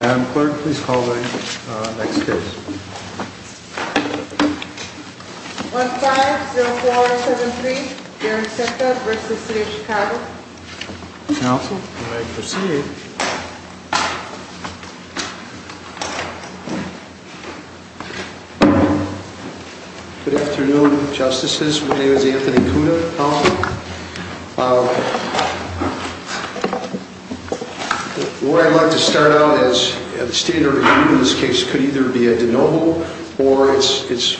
Madam Clerk, please call the next case. 1-5-0-4-7-3, Darren Skerka v. City of Chicago. Counsel, you may proceed. Good afternoon, Justices. My name is Anthony Kuda, Counselor. What I'd like to start out as the standard review in this case could either be a de novo or it's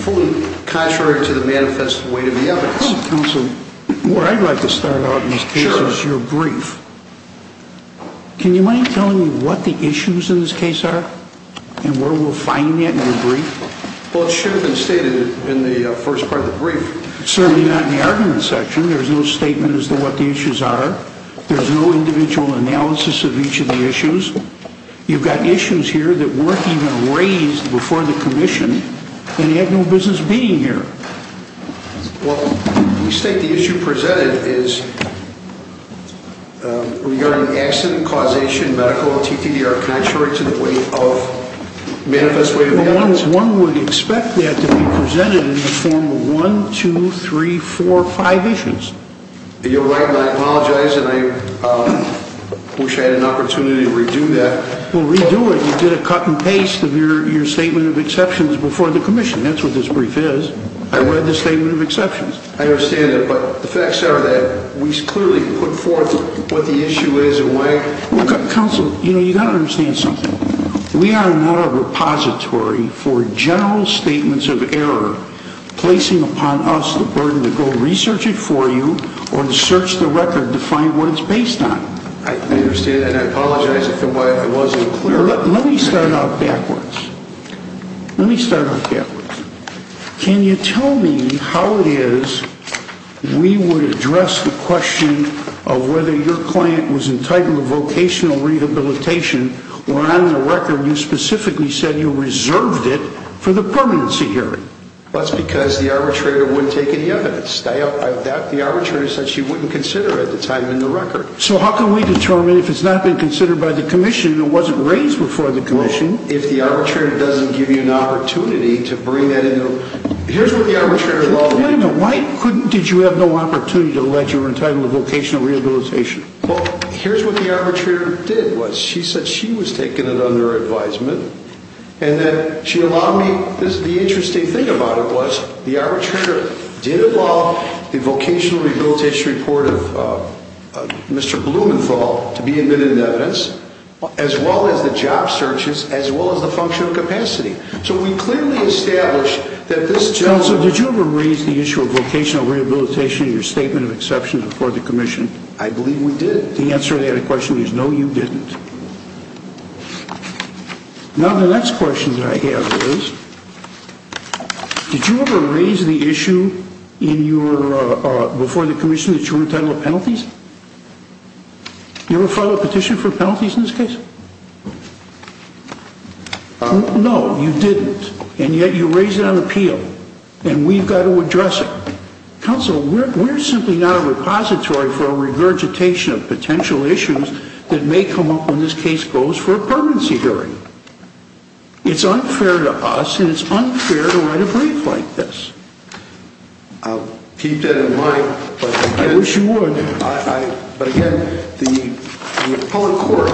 fully contrary to the manifest weight of the evidence. Counsel, what I'd like to start out in this case is your brief. Can you mind telling me what the issues in this case are and where we'll find them in your brief? Well, it should have been stated in the first part of the brief. Certainly not in the argument section. There's no statement as to what the issues are. There's no individual analysis of each of the issues. You've got issues here that weren't even raised before the Commission, and you have no business being here. Well, you state the issue presented is regarding accident, causation, medical, etc. are contrary to the weight of, manifest weight of the evidence. One would expect that to be presented in the form of one, two, three, four, five issues. You're right. I apologize, and I wish I had an opportunity to redo that. Well, redo it. You did a cut and paste of your statement of exceptions before the Commission. That's what this brief is. I read the statement of exceptions. I understand it, but the facts are that we clearly put forth what the issue is and why. Counsel, you've got to understand something. We are not a repository for general statements of error, placing upon us the burden to go research it for you or to search the record to find what it's based on. I understand that, and I apologize if it wasn't clear. Let me start out backwards. Let me start out backwards. Can you tell me how it is we would address the question of whether your client was entitled to vocational rehabilitation or on the record you specifically said you reserved it for the permanency hearing? That's because the arbitrator wouldn't take any evidence. The arbitrator said she wouldn't consider it at the time in the record. So how can we determine if it's not been considered by the Commission and it wasn't raised before the Commission? If the arbitrator doesn't give you an opportunity to bring that into – here's what the arbitrator – Wait a minute. Why couldn't – did you have no opportunity to allege you were entitled to vocational rehabilitation? Well, here's what the arbitrator did was she said she was taking it under advisement, and then she allowed me – the interesting thing about it was the arbitrator did allow the vocational rehabilitation report of Mr. Blumenthal to be admitted into evidence, as well as the job searches, as well as the functional capacity. So we clearly established that this gentleman – Counsel, did you ever raise the issue of vocational rehabilitation in your statement of exceptions before the Commission? I believe we did. The answer to that question is no, you didn't. Now, the next question that I have is, did you ever raise the issue in your – before the Commission that you were entitled to penalties? You ever file a petition for penalties in this case? No, you didn't, and yet you raise it on appeal, and we've got to address it. Counsel, we're simply not a repository for a regurgitation of potential issues that may come up when this case goes for a permanency hearing. It's unfair to us, and it's unfair to write a brief like this. I'll keep that in mind, but – I wish you would. But again, the appellate court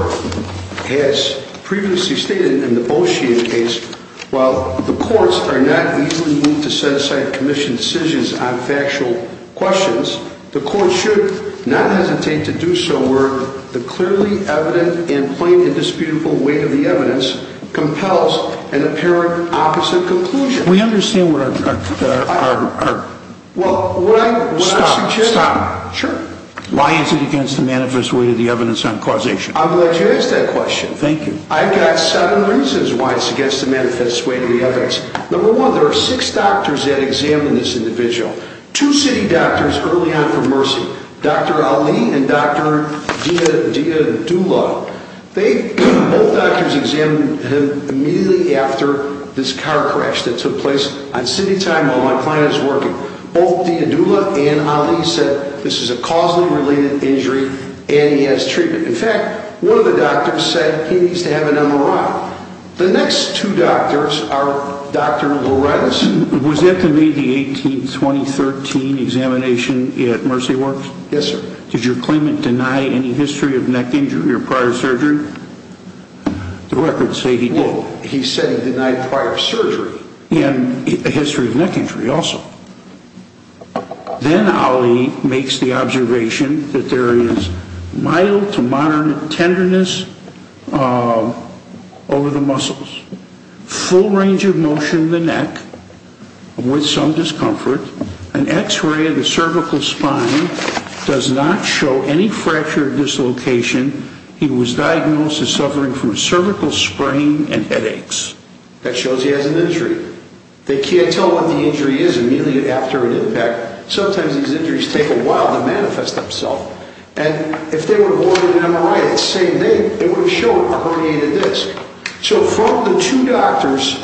has previously stated in the Beauchene case, while the courts are not easily moved to set aside Commission decisions on factual questions, the courts should not hesitate to do so where the clearly evident and plain and disputable weight of the evidence compels an apparent opposite conclusion. We understand what our – Well, what I'm suggesting – Stop. Stop. Sure. Why is it against the manifest weight of the evidence on causation? I'm glad you asked that question. Thank you. I've got seven reasons why it's against the manifest weight of the evidence. Number one, there are six doctors that examined this individual. Two city doctors early on from Mercy, Dr. Ali and Dr. Diadula. They – both doctors examined him immediately after this car crash that took place on city time while my client was working. Both Diadula and Ali said this is a causally related injury and he has treatment. In fact, one of the doctors said he needs to have an MRI. The next two doctors are Dr. Lorenz. Was that the May 18, 2013 examination at Mercy Works? Yes, sir. Did your claimant deny any history of neck injury or prior surgery? The records say he did. Well, he said he denied prior surgery. He had a history of neck injury also. Then Ali makes the observation that there is mild to moderate tenderness over the muscles, full range of motion of the neck with some discomfort. An X-ray of the cervical spine does not show any fracture or dislocation. He was diagnosed as suffering from a cervical sprain and headaches. That shows he has an injury. They can't tell what the injury is immediately after an impact. Sometimes these injuries take a while to manifest themselves. And if they would have ordered an MRI the same day, it would have shown a herniated disc. So from the two doctors,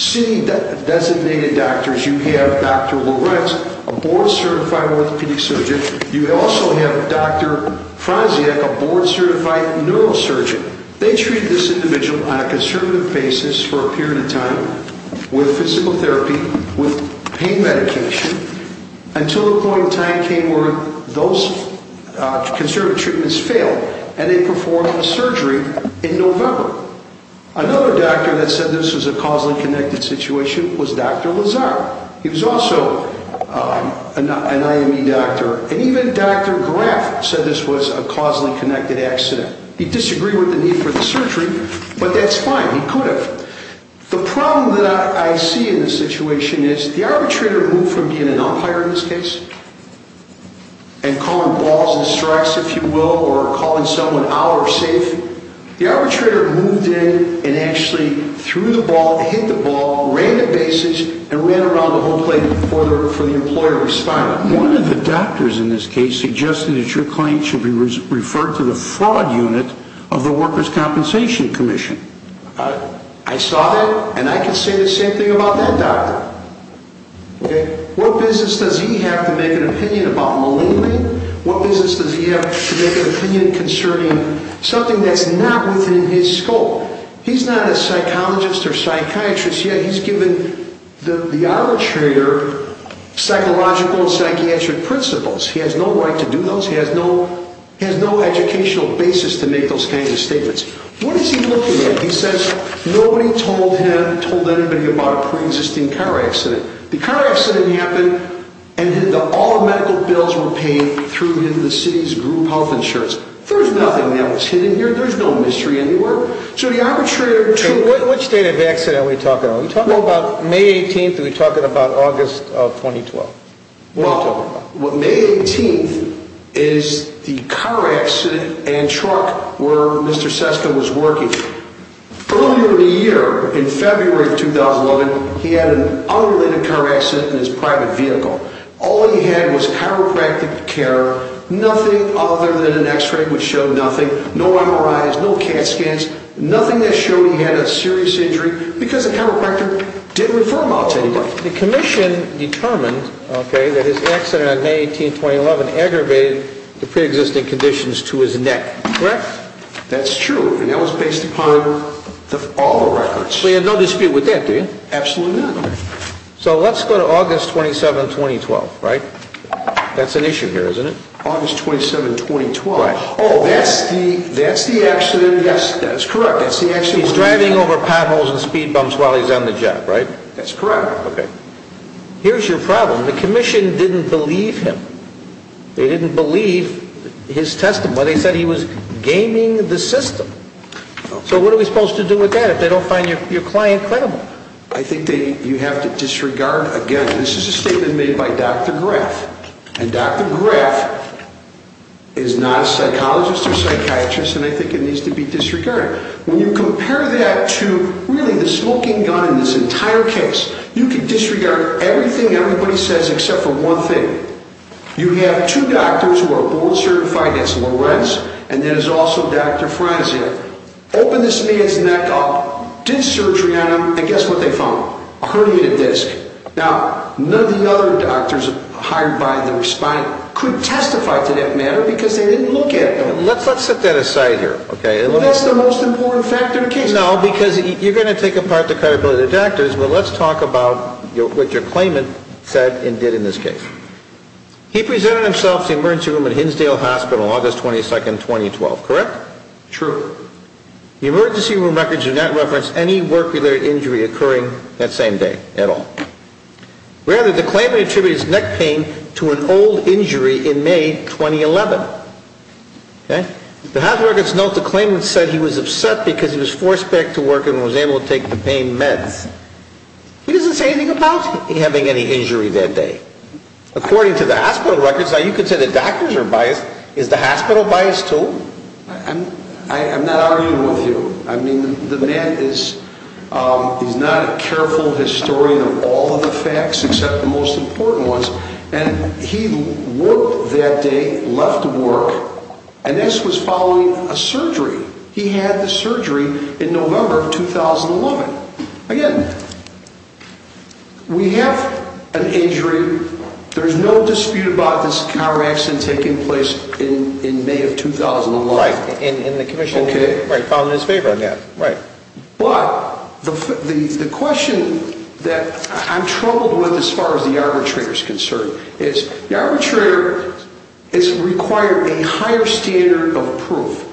city designated doctors, you have Dr. Lorenz, a board certified orthopedic surgeon. You also have Dr. Franziak, a board certified neurosurgeon. They treated this individual on a conservative basis for a period of time with physical therapy, with pain medication until a point in time came where those conservative treatments failed and they performed the surgery in November. Another doctor that said this was a causally connected situation was Dr. Lazar. He was also an IME doctor. And even Dr. Graf said this was a causally connected accident. He disagreed with the need for the surgery, but that's fine. He could have. The problem that I see in this situation is the arbitrator moved from being an umpire in this case and calling balls and strikes, if you will, or calling someone out or safe. The arbitrator moved in and actually threw the ball, hit the ball, ran the bases, and ran around the whole place for the employer of the spine. One of the doctors in this case suggested that your claim should be referred to the fraud unit of the Workers' Compensation Commission. I saw that, and I can say the same thing about that doctor. What business does he have to make an opinion about malignant? What business does he have to make an opinion concerning something that's not within his scope? He's not a psychologist or psychiatrist, yet he's given the arbitrator psychological and psychiatric principles. He has no right to do those. He has no educational basis to make those kinds of statements. What is he looking at? He says nobody told him, told anybody about a preexisting car accident. The car accident happened, and all the medical bills were paid through the city's group health insurance. There's nothing that was hidden here. There's no mystery anywhere. Which date of accident are we talking about? Are we talking about May 18th or are we talking about August of 2012? Well, May 18th is the car accident and truck where Mr. Seska was working. Earlier in the year, in February of 2011, he had an unrelated car accident in his private vehicle. All he had was chiropractic care, nothing other than an X-ray, which showed nothing, no MRIs, no CAT scans, nothing that showed he had a serious injury, because the chiropractor didn't refer him out to anybody. The commission determined that his accident on May 18th, 2011, aggravated the preexisting conditions to his neck, correct? That's true, and that was based upon all the records. So you have no dispute with that, do you? Absolutely not. So let's go to August 27, 2012, right? That's an issue here, isn't it? August 27, 2012. Oh, that's the accident, yes, that's correct. He's driving over potholes and speed bumps while he's on the job, right? That's correct. Okay. Here's your problem. The commission didn't believe him. They didn't believe his testimony. They said he was gaming the system. So what are we supposed to do with that if they don't find your client credible? I think that you have to disregard, again, this is a statement made by Dr. Graff, and Dr. Graff is not a psychologist or psychiatrist, and I think it needs to be disregarded. When you compare that to, really, the smoking gun in this entire case, you can disregard everything everybody says except for one thing. You have two doctors who are boldly certified. That's Lorenz, and then there's also Dr. Frazier. Opened this man's neck up, did surgery on him, and guess what they found? A herniated disc. Now, none of the other doctors hired by the respondent could testify to that matter because they didn't look at them. Let's set that aside here. That's the most important factor in the case. No, because you're going to take apart the credibility of the doctors, but let's talk about what your claimant said and did in this case. He presented himself to the emergency room at Hinsdale Hospital August 22, 2012, correct? True. The emergency room records do not reference any work-related injury occurring that same day at all. Rather, the claimant attributed his neck pain to an old injury in May 2011. The hospital records note the claimant said he was upset because he was forced back to work and was able to take the pain meds. He doesn't say anything about having any injury that day. According to the hospital records, now you could say the doctors are biased. Is the hospital biased too? I'm not arguing with you. I mean, the man is not a careful historian of all of the facts except the most important ones. And he worked that day, left work, and this was following a surgery. He had the surgery in November of 2011. Again, we have an injury. There's no dispute about this car accident taking place in May of 2011. Right, and the commissioner found it in his favor. Right. But the question that I'm troubled with as far as the arbitrator is concerned is the arbitrator has required a higher standard of proof.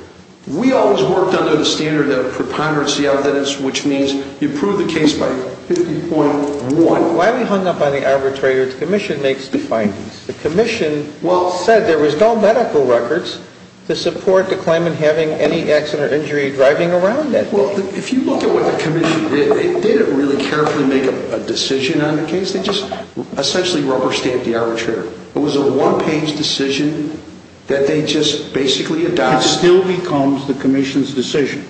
We always worked under the standard of preponderance of evidence, which means you prove the case by 50.1. Why are we hung up on the arbitrator? The commission makes the findings. The commission said there was no medical records to support the claimant having any accident or injury driving around that day. Well, if you look at what the commission did, they didn't really carefully make a decision on the case. They just essentially rubber stamped the arbitrator. It was a one-page decision that they just basically adopted. It still becomes the commission's decision.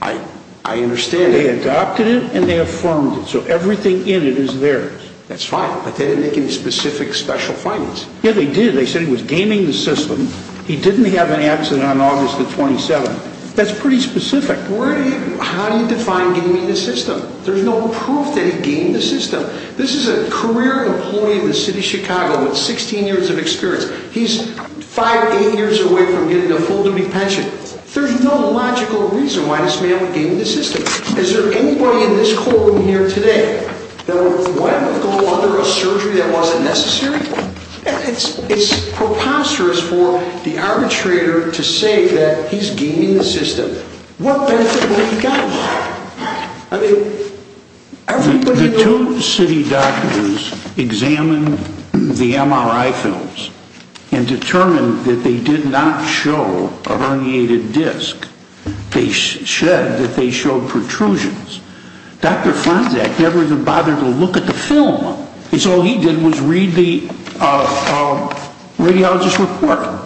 I understand that. They adopted it and they affirmed it, so everything in it is theirs. That's fine, but they didn't make any specific special findings. Yeah, they did. They said he was gaming the system. He didn't have an accident on August the 27th. That's pretty specific. How do you define gaming the system? There's no proof that he gamed the system. This is a career employee in the city of Chicago with 16 years of experience. He's five, eight years away from getting a full-time pension. There's no logical reason why this man would game the system. Is there anybody in this courtroom here today that would go under a surgery that wasn't necessary? It's preposterous for the arbitrator to say that he's gaming the system. What benefit would he get? The two city doctors examined the MRI films and determined that they did not show a herniated disc. They said that they showed protrusions. Dr. Franczak never even bothered to look at the film. All he did was read the radiologist's report.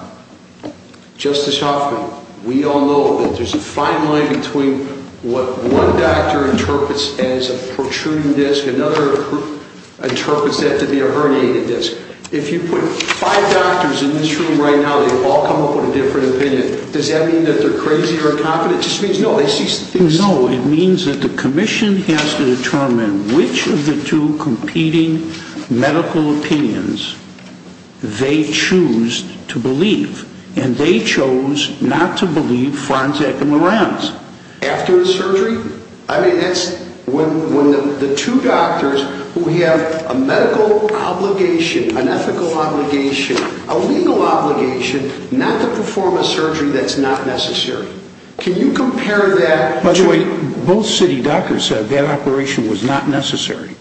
Justice Hoffman, we all know that there's a fine line between what one doctor interprets as a protruding disc and another who interprets that to be a herniated disc. If you put five doctors in this room right now, they all come up with a different opinion. Does that mean that they're crazy or incompetent? It just means no. No, it means that the commission has to determine which of the two competing medical opinions they choose to believe. And they chose not to believe Franczak and Moran's. After the surgery? I mean, that's when the two doctors who have a medical obligation, an ethical obligation, a legal obligation, not to perform a surgery that's not necessary. Can you compare that to... By the way, both city doctors said that operation was not necessary.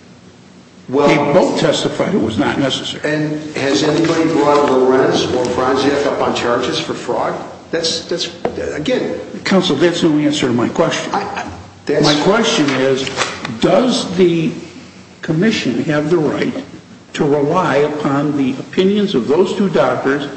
They both testified it was not necessary. And has anybody brought Lorenz or Franczak up on charges for fraud? Counsel, that's no answer to my question. My question is, does the commission have the right to rely upon the opinions of those two doctors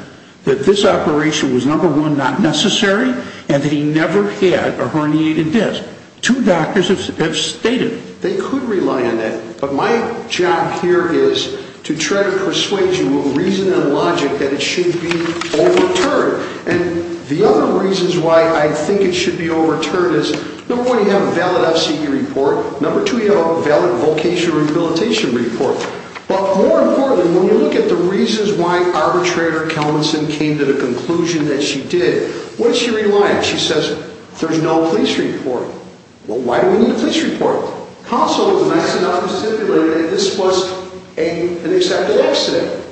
that this operation was, number one, not necessary, and that he never had a herniated disc? Two doctors have stated it. They could rely on that. But my job here is to try to persuade you with reason and logic that it should be overturned. And the other reasons why I think it should be overturned is, number one, you have a valid FCE report. Number two, you have a valid vocational rehabilitation report. But more importantly, when we look at the reasons why arbitrator Kelmanson came to the conclusion that she did, what does she rely on? She says, there's no police report. Well, why do we need a police report? Counsel was nice enough to stipulate that this was an accepted accident.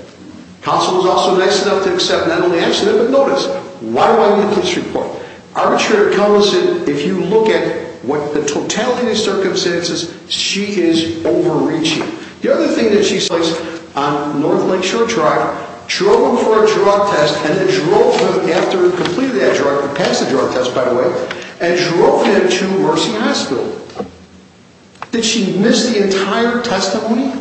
Counsel was also nice enough to accept not only the accident, but notice, why do I need a police report? Arbitrator Kelmanson, if you look at the totality of the circumstances, she is overreaching. The other thing that she says on North Lakeshore Drive, drove him for a drug test and then drove him after he completed that drug, he passed the drug test, by the way, and drove him to Mercy Hospital. Did she miss the entire testimony?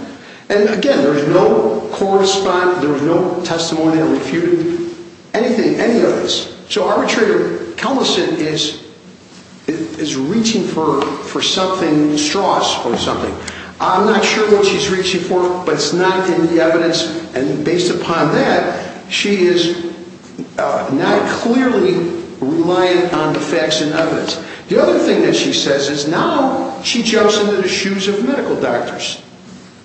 And again, there was no correspondence, there was no testimony or refute, anything, any of this. So arbitrator Kelmanson is reaching for something, straws for something. I'm not sure what she's reaching for, but it's not in the evidence. And based upon that, she is not clearly reliant on the facts and evidence. The other thing that she says is now she jumps into the shoes of medical doctors.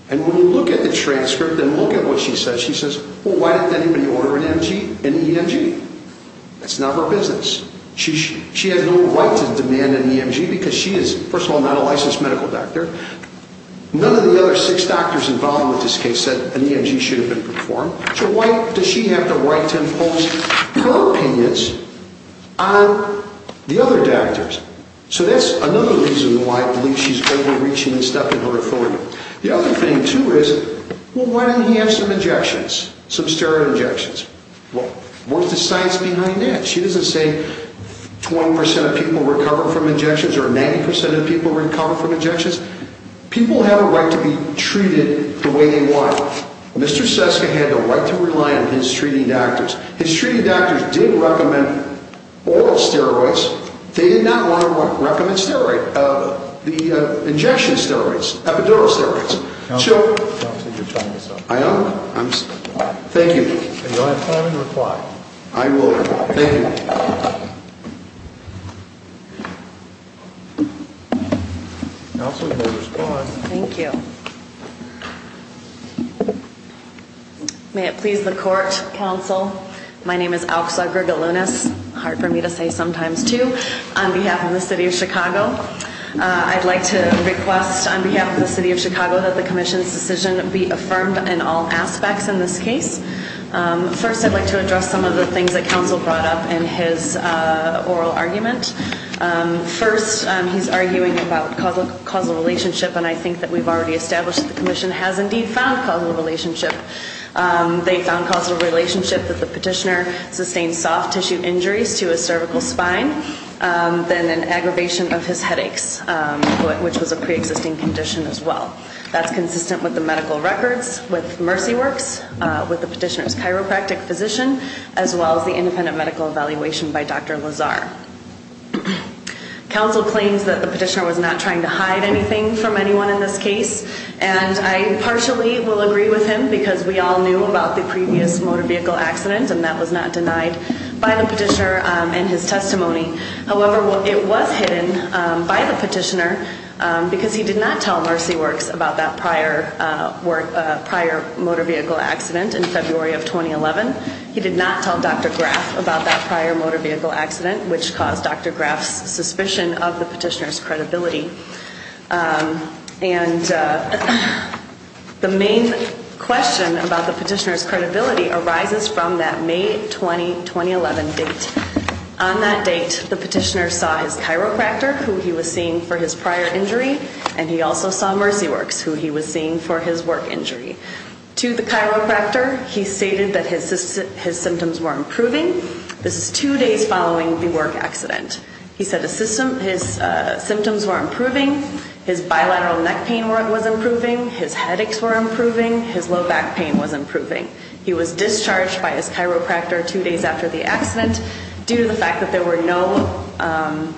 And when we look at the transcript and look at what she says, she says, well, why did anybody order an EMG? That's not her business. She has no right to demand an EMG because she is, first of all, not a licensed medical doctor. None of the other six doctors involved in this case said an EMG should have been performed. So why does she have the right to impose her opinions on the other doctors? So that's another reason why I believe she's overreaching and stepping on her authority. The other thing, too, is, well, why didn't he have some injections, some steroid injections? What's the science behind that? She doesn't say 20% of people recover from injections or 90% of people recover from injections. People have a right to be treated the way they want. Mr. Seska had the right to rely on his treating doctors. His treating doctors did recommend oral steroids. They did not recommend the injection steroids, epidural steroids. Counselor, I don't think you're telling the truth. I am? Thank you. Are you going to reply? I will reply. Thank you. Counselor, you may respond. Thank you. May it please the Court, Counsel. My name is Auxa Grigalunas, hard for me to say sometimes, too, on behalf of the city of Chicago. I'd like to request on behalf of the city of Chicago that the commission's decision be affirmed in all aspects in this case. First, I'd like to address some of the things that Counsel brought up in his oral argument. First, he's arguing about causal relationship, and I think that we've already established that the commission has indeed found causal relationship. They found causal relationship that the petitioner sustained soft tissue injuries to his cervical spine, then an aggravation of his headaches, which was a preexisting condition as well. That's consistent with the medical records with Mercy Works, with the petitioner's chiropractic physician, as well as the independent medical evaluation by Dr. Lazar. Counsel claims that the petitioner was not trying to hide anything from anyone in this case, and I partially will agree with him because we all knew about the previous motor vehicle accident, and that was not denied by the petitioner in his testimony. However, it was hidden by the petitioner because he did not tell Mercy Works about that prior motor vehicle accident in February of 2011. He did not tell Dr. Graff about that prior motor vehicle accident, which caused Dr. Graff's suspicion of the petitioner's credibility. And the main question about the petitioner's credibility arises from that May 20, 2011 date. On that date, the petitioner saw his chiropractor, who he was seeing for his prior injury, and he also saw Mercy Works, who he was seeing for his work injury. To the chiropractor, he stated that his symptoms were improving. This is two days following the work accident. He said his symptoms were improving, his bilateral neck pain was improving, his headaches were improving, his low back pain was improving. He was discharged by his chiropractor two days after the accident due to the fact that there were no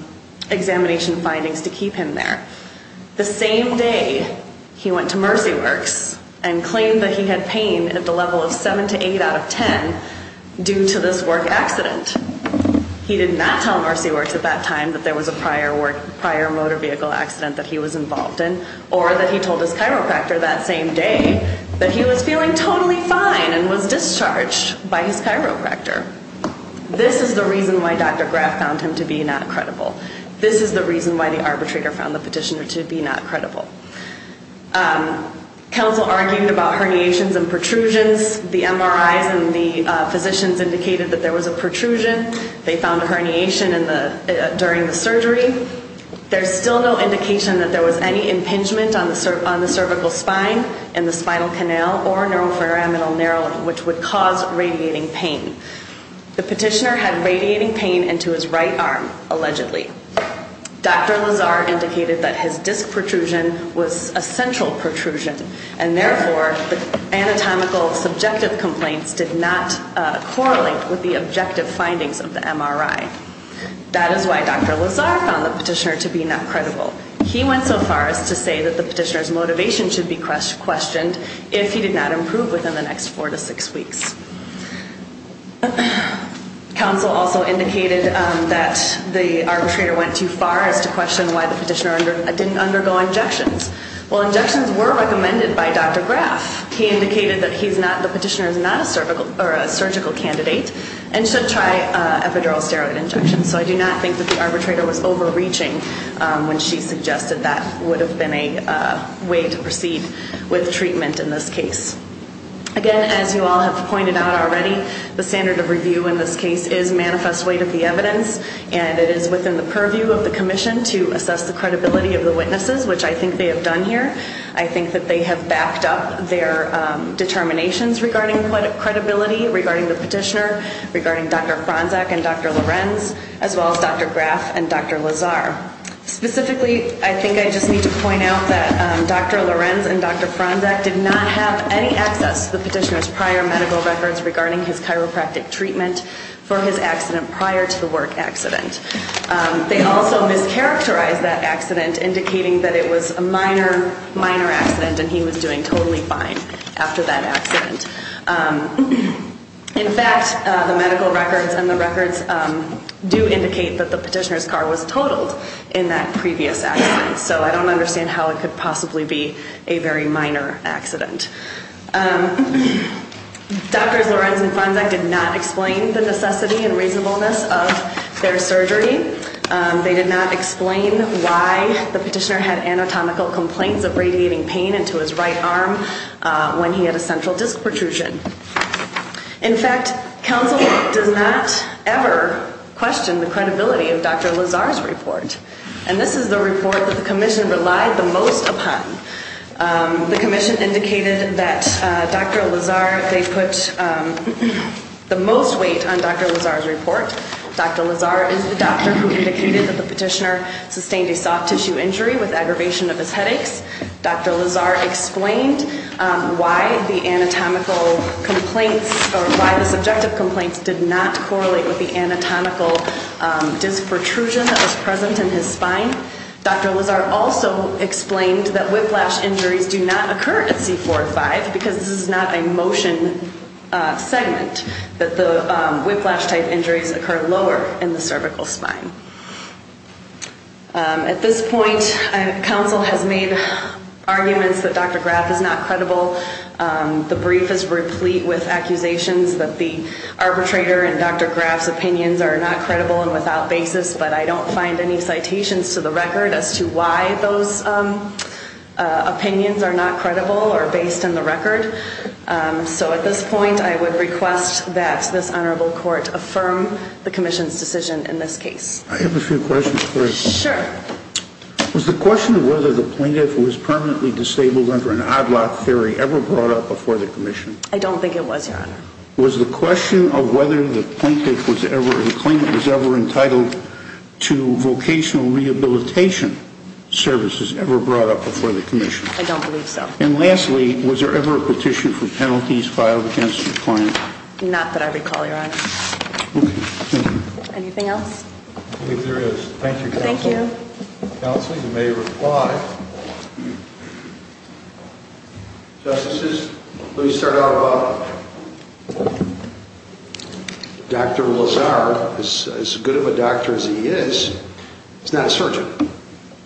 examination findings to keep him there. The same day, he went to Mercy Works and claimed that he had pain at the level of 7 to 8 out of 10 due to this work accident. He did not tell Mercy Works at that time that there was a prior motor vehicle accident that he was involved in, or that he told his chiropractor that same day that he was feeling totally fine and was discharged by his chiropractor. This is the reason why Dr. Graff found him to be not credible. This is the reason why the arbitrator found the petitioner to be not credible. Counsel argued about herniations and protrusions. The MRIs and the physicians indicated that there was a protrusion. They found a herniation during the surgery. There's still no indication that there was any impingement on the cervical spine and the spinal canal or neurofibrominal narrowing, which would cause radiating pain. The petitioner had radiating pain into his right arm, allegedly. Dr. Lazar indicated that his disc protrusion was a central protrusion, and therefore the anatomical subjective complaints did not correlate with the objective findings of the MRI. That is why Dr. Lazar found the petitioner to be not credible. He went so far as to say that the petitioner's motivation should be questioned if he did not improve within the next four to six weeks. Counsel also indicated that the arbitrator went too far as to question why the petitioner didn't undergo injections. Well, injections were recommended by Dr. Graff. He indicated that the petitioner is not a surgical candidate and should try epidural steroid injections. So I do not think that the arbitrator was overreaching when she suggested that would have been a way to proceed with treatment in this case. Again, as you all have pointed out already, the standard of review in this case is manifest weight of the evidence, and it is within the purview of the commission to assess the credibility of the witnesses, which I think they have done here. I think that they have backed up their determinations regarding credibility, regarding the petitioner, regarding Dr. Franczak and Dr. Lorenz, as well as Dr. Graff and Dr. Lazar. Specifically, I think I just need to point out that Dr. Lorenz and Dr. Franczak did not have any access to the petitioner's prior medical records regarding his chiropractic treatment for his accident prior to the work accident. They also mischaracterized that accident, indicating that it was a minor, minor accident and he was doing totally fine after that accident. In fact, the medical records and the records do indicate that the petitioner's car was totaled in that previous accident, so I don't understand how it could possibly be a very minor accident. Doctors Lorenz and Franczak did not explain the necessity and reasonableness of their surgery. They did not explain why the petitioner had anatomical complaints of radiating pain into his right arm when he had a central disc protrusion. In fact, counsel does not ever question the credibility of Dr. Lazar's report, and this is the report that the commission relied the most upon. The commission indicated that Dr. Lazar, they put the most weight on Dr. Lazar's report. Dr. Lazar is the doctor who indicated that the petitioner sustained a soft tissue injury with aggravation of his headaches. Dr. Lazar explained why the anatomical complaints or why the subjective complaints did not correlate with the anatomical disc protrusion that was present in his spine. Dr. Lazar also explained that whiplash injuries do not occur at C4-5 because this is not a motion segment, that the whiplash type injuries occur lower in the cervical spine. At this point, counsel has made arguments that Dr. Graf is not credible. The brief is replete with accusations that the arbitrator and Dr. Graf's opinions are not credible and without basis, but I don't find any citations to the record as to why those opinions are not credible or based on the record. So at this point, I would request that this honorable court affirm the commission's decision in this case. I have a few questions first. Sure. Was the question of whether the plaintiff was permanently disabled under an odd-lot theory ever brought up before the commission? I don't think it was, Your Honor. Was the question of whether the plaintiff was ever entitled to vocational rehabilitation services ever brought up before the commission? I don't believe so. And lastly, was there ever a petition for penalties filed against the client? Not that I recall, Your Honor. Okay. Anything else? I believe there is. Thank you, counsel. Thank you. Counsel, you may reply. Justices, let me start out about Dr. Lazar. As good of a doctor as he is, he's not a surgeon.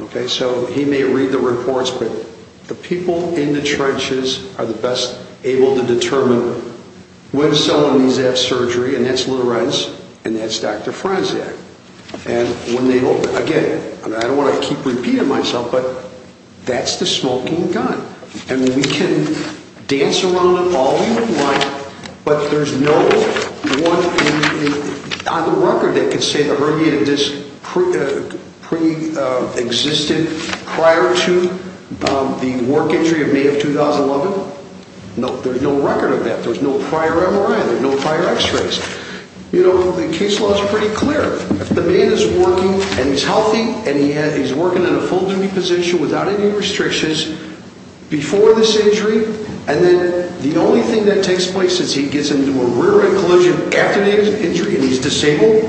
Okay? So he may read the reports, but the people in the churches are the best able to determine when someone needs to have surgery, and that's Little Reds and that's Dr. Franczak. Again, I don't want to keep repeating myself, but that's the smoking gun, and we can dance around it all we want, but there's no record that can say the hernia existed prior to the work injury in May of 2011. There's no record of that. There's no prior MRI. There's no prior x-rays. You know, the case law is pretty clear. If the man is working and he's healthy and he's working in a full-time position without any restrictions before this injury, and then the only thing that takes place is he gets into a rear-end collision after the injury and he's disabled,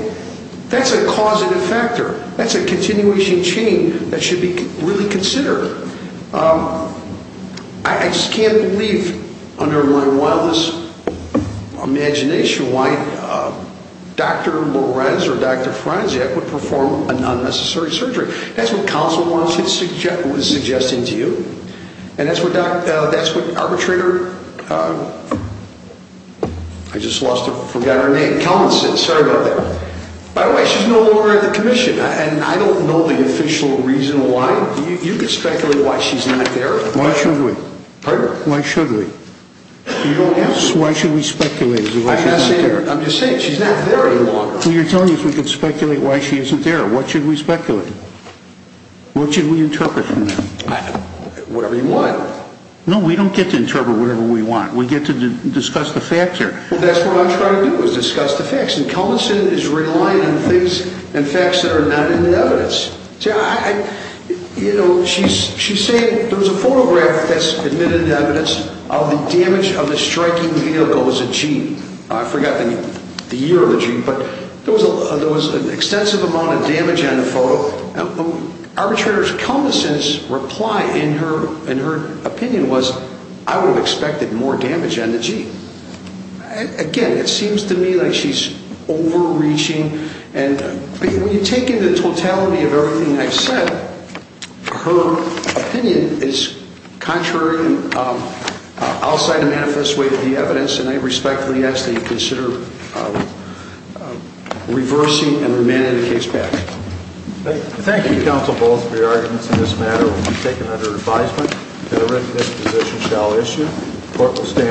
that's a causative factor. That's a continuation chain that should be really considered. I just can't believe under my wildest imagination why Dr. Little Reds or Dr. Franczak would perform a non-necessary surgery. That's what counsel was suggesting to you, and that's what arbitrator – I just forgot her name. Kelmanson. Sorry about that. By the way, she's no longer in the commission, and I don't know the official reason why. You could speculate why she's not there. Why should we? Pardon? Why should we? You don't have to. Why should we speculate why she's not there? I'm just saying she's not there any longer. Well, you're telling us we could speculate why she isn't there. What should we speculate? What should we interpret from that? Whatever you want. No, we don't get to interpret whatever we want. We get to discuss the facts here. Well, that's what I'm trying to do is discuss the facts, and Kelmanson is relying on things and facts that are not in the evidence. You know, she's saying there was a photograph that's admitted evidence of the damage of the striking vehicle. It was a Jeep. I forgot the year of the Jeep, but there was an extensive amount of damage on the photo. Arbitrator Kelmanson's reply in her opinion was, I would have expected more damage on the Jeep. Again, it seems to me like she's overreaching. When you take into totality of everything I've said, her opinion is contrary and outside of manifest way to the evidence, and I respectfully ask that you consider reversing and remanding the case back. Thank you, Counsel Bowles, for your arguments in this matter. It will be taken under advisement. Court will stand as adjourned.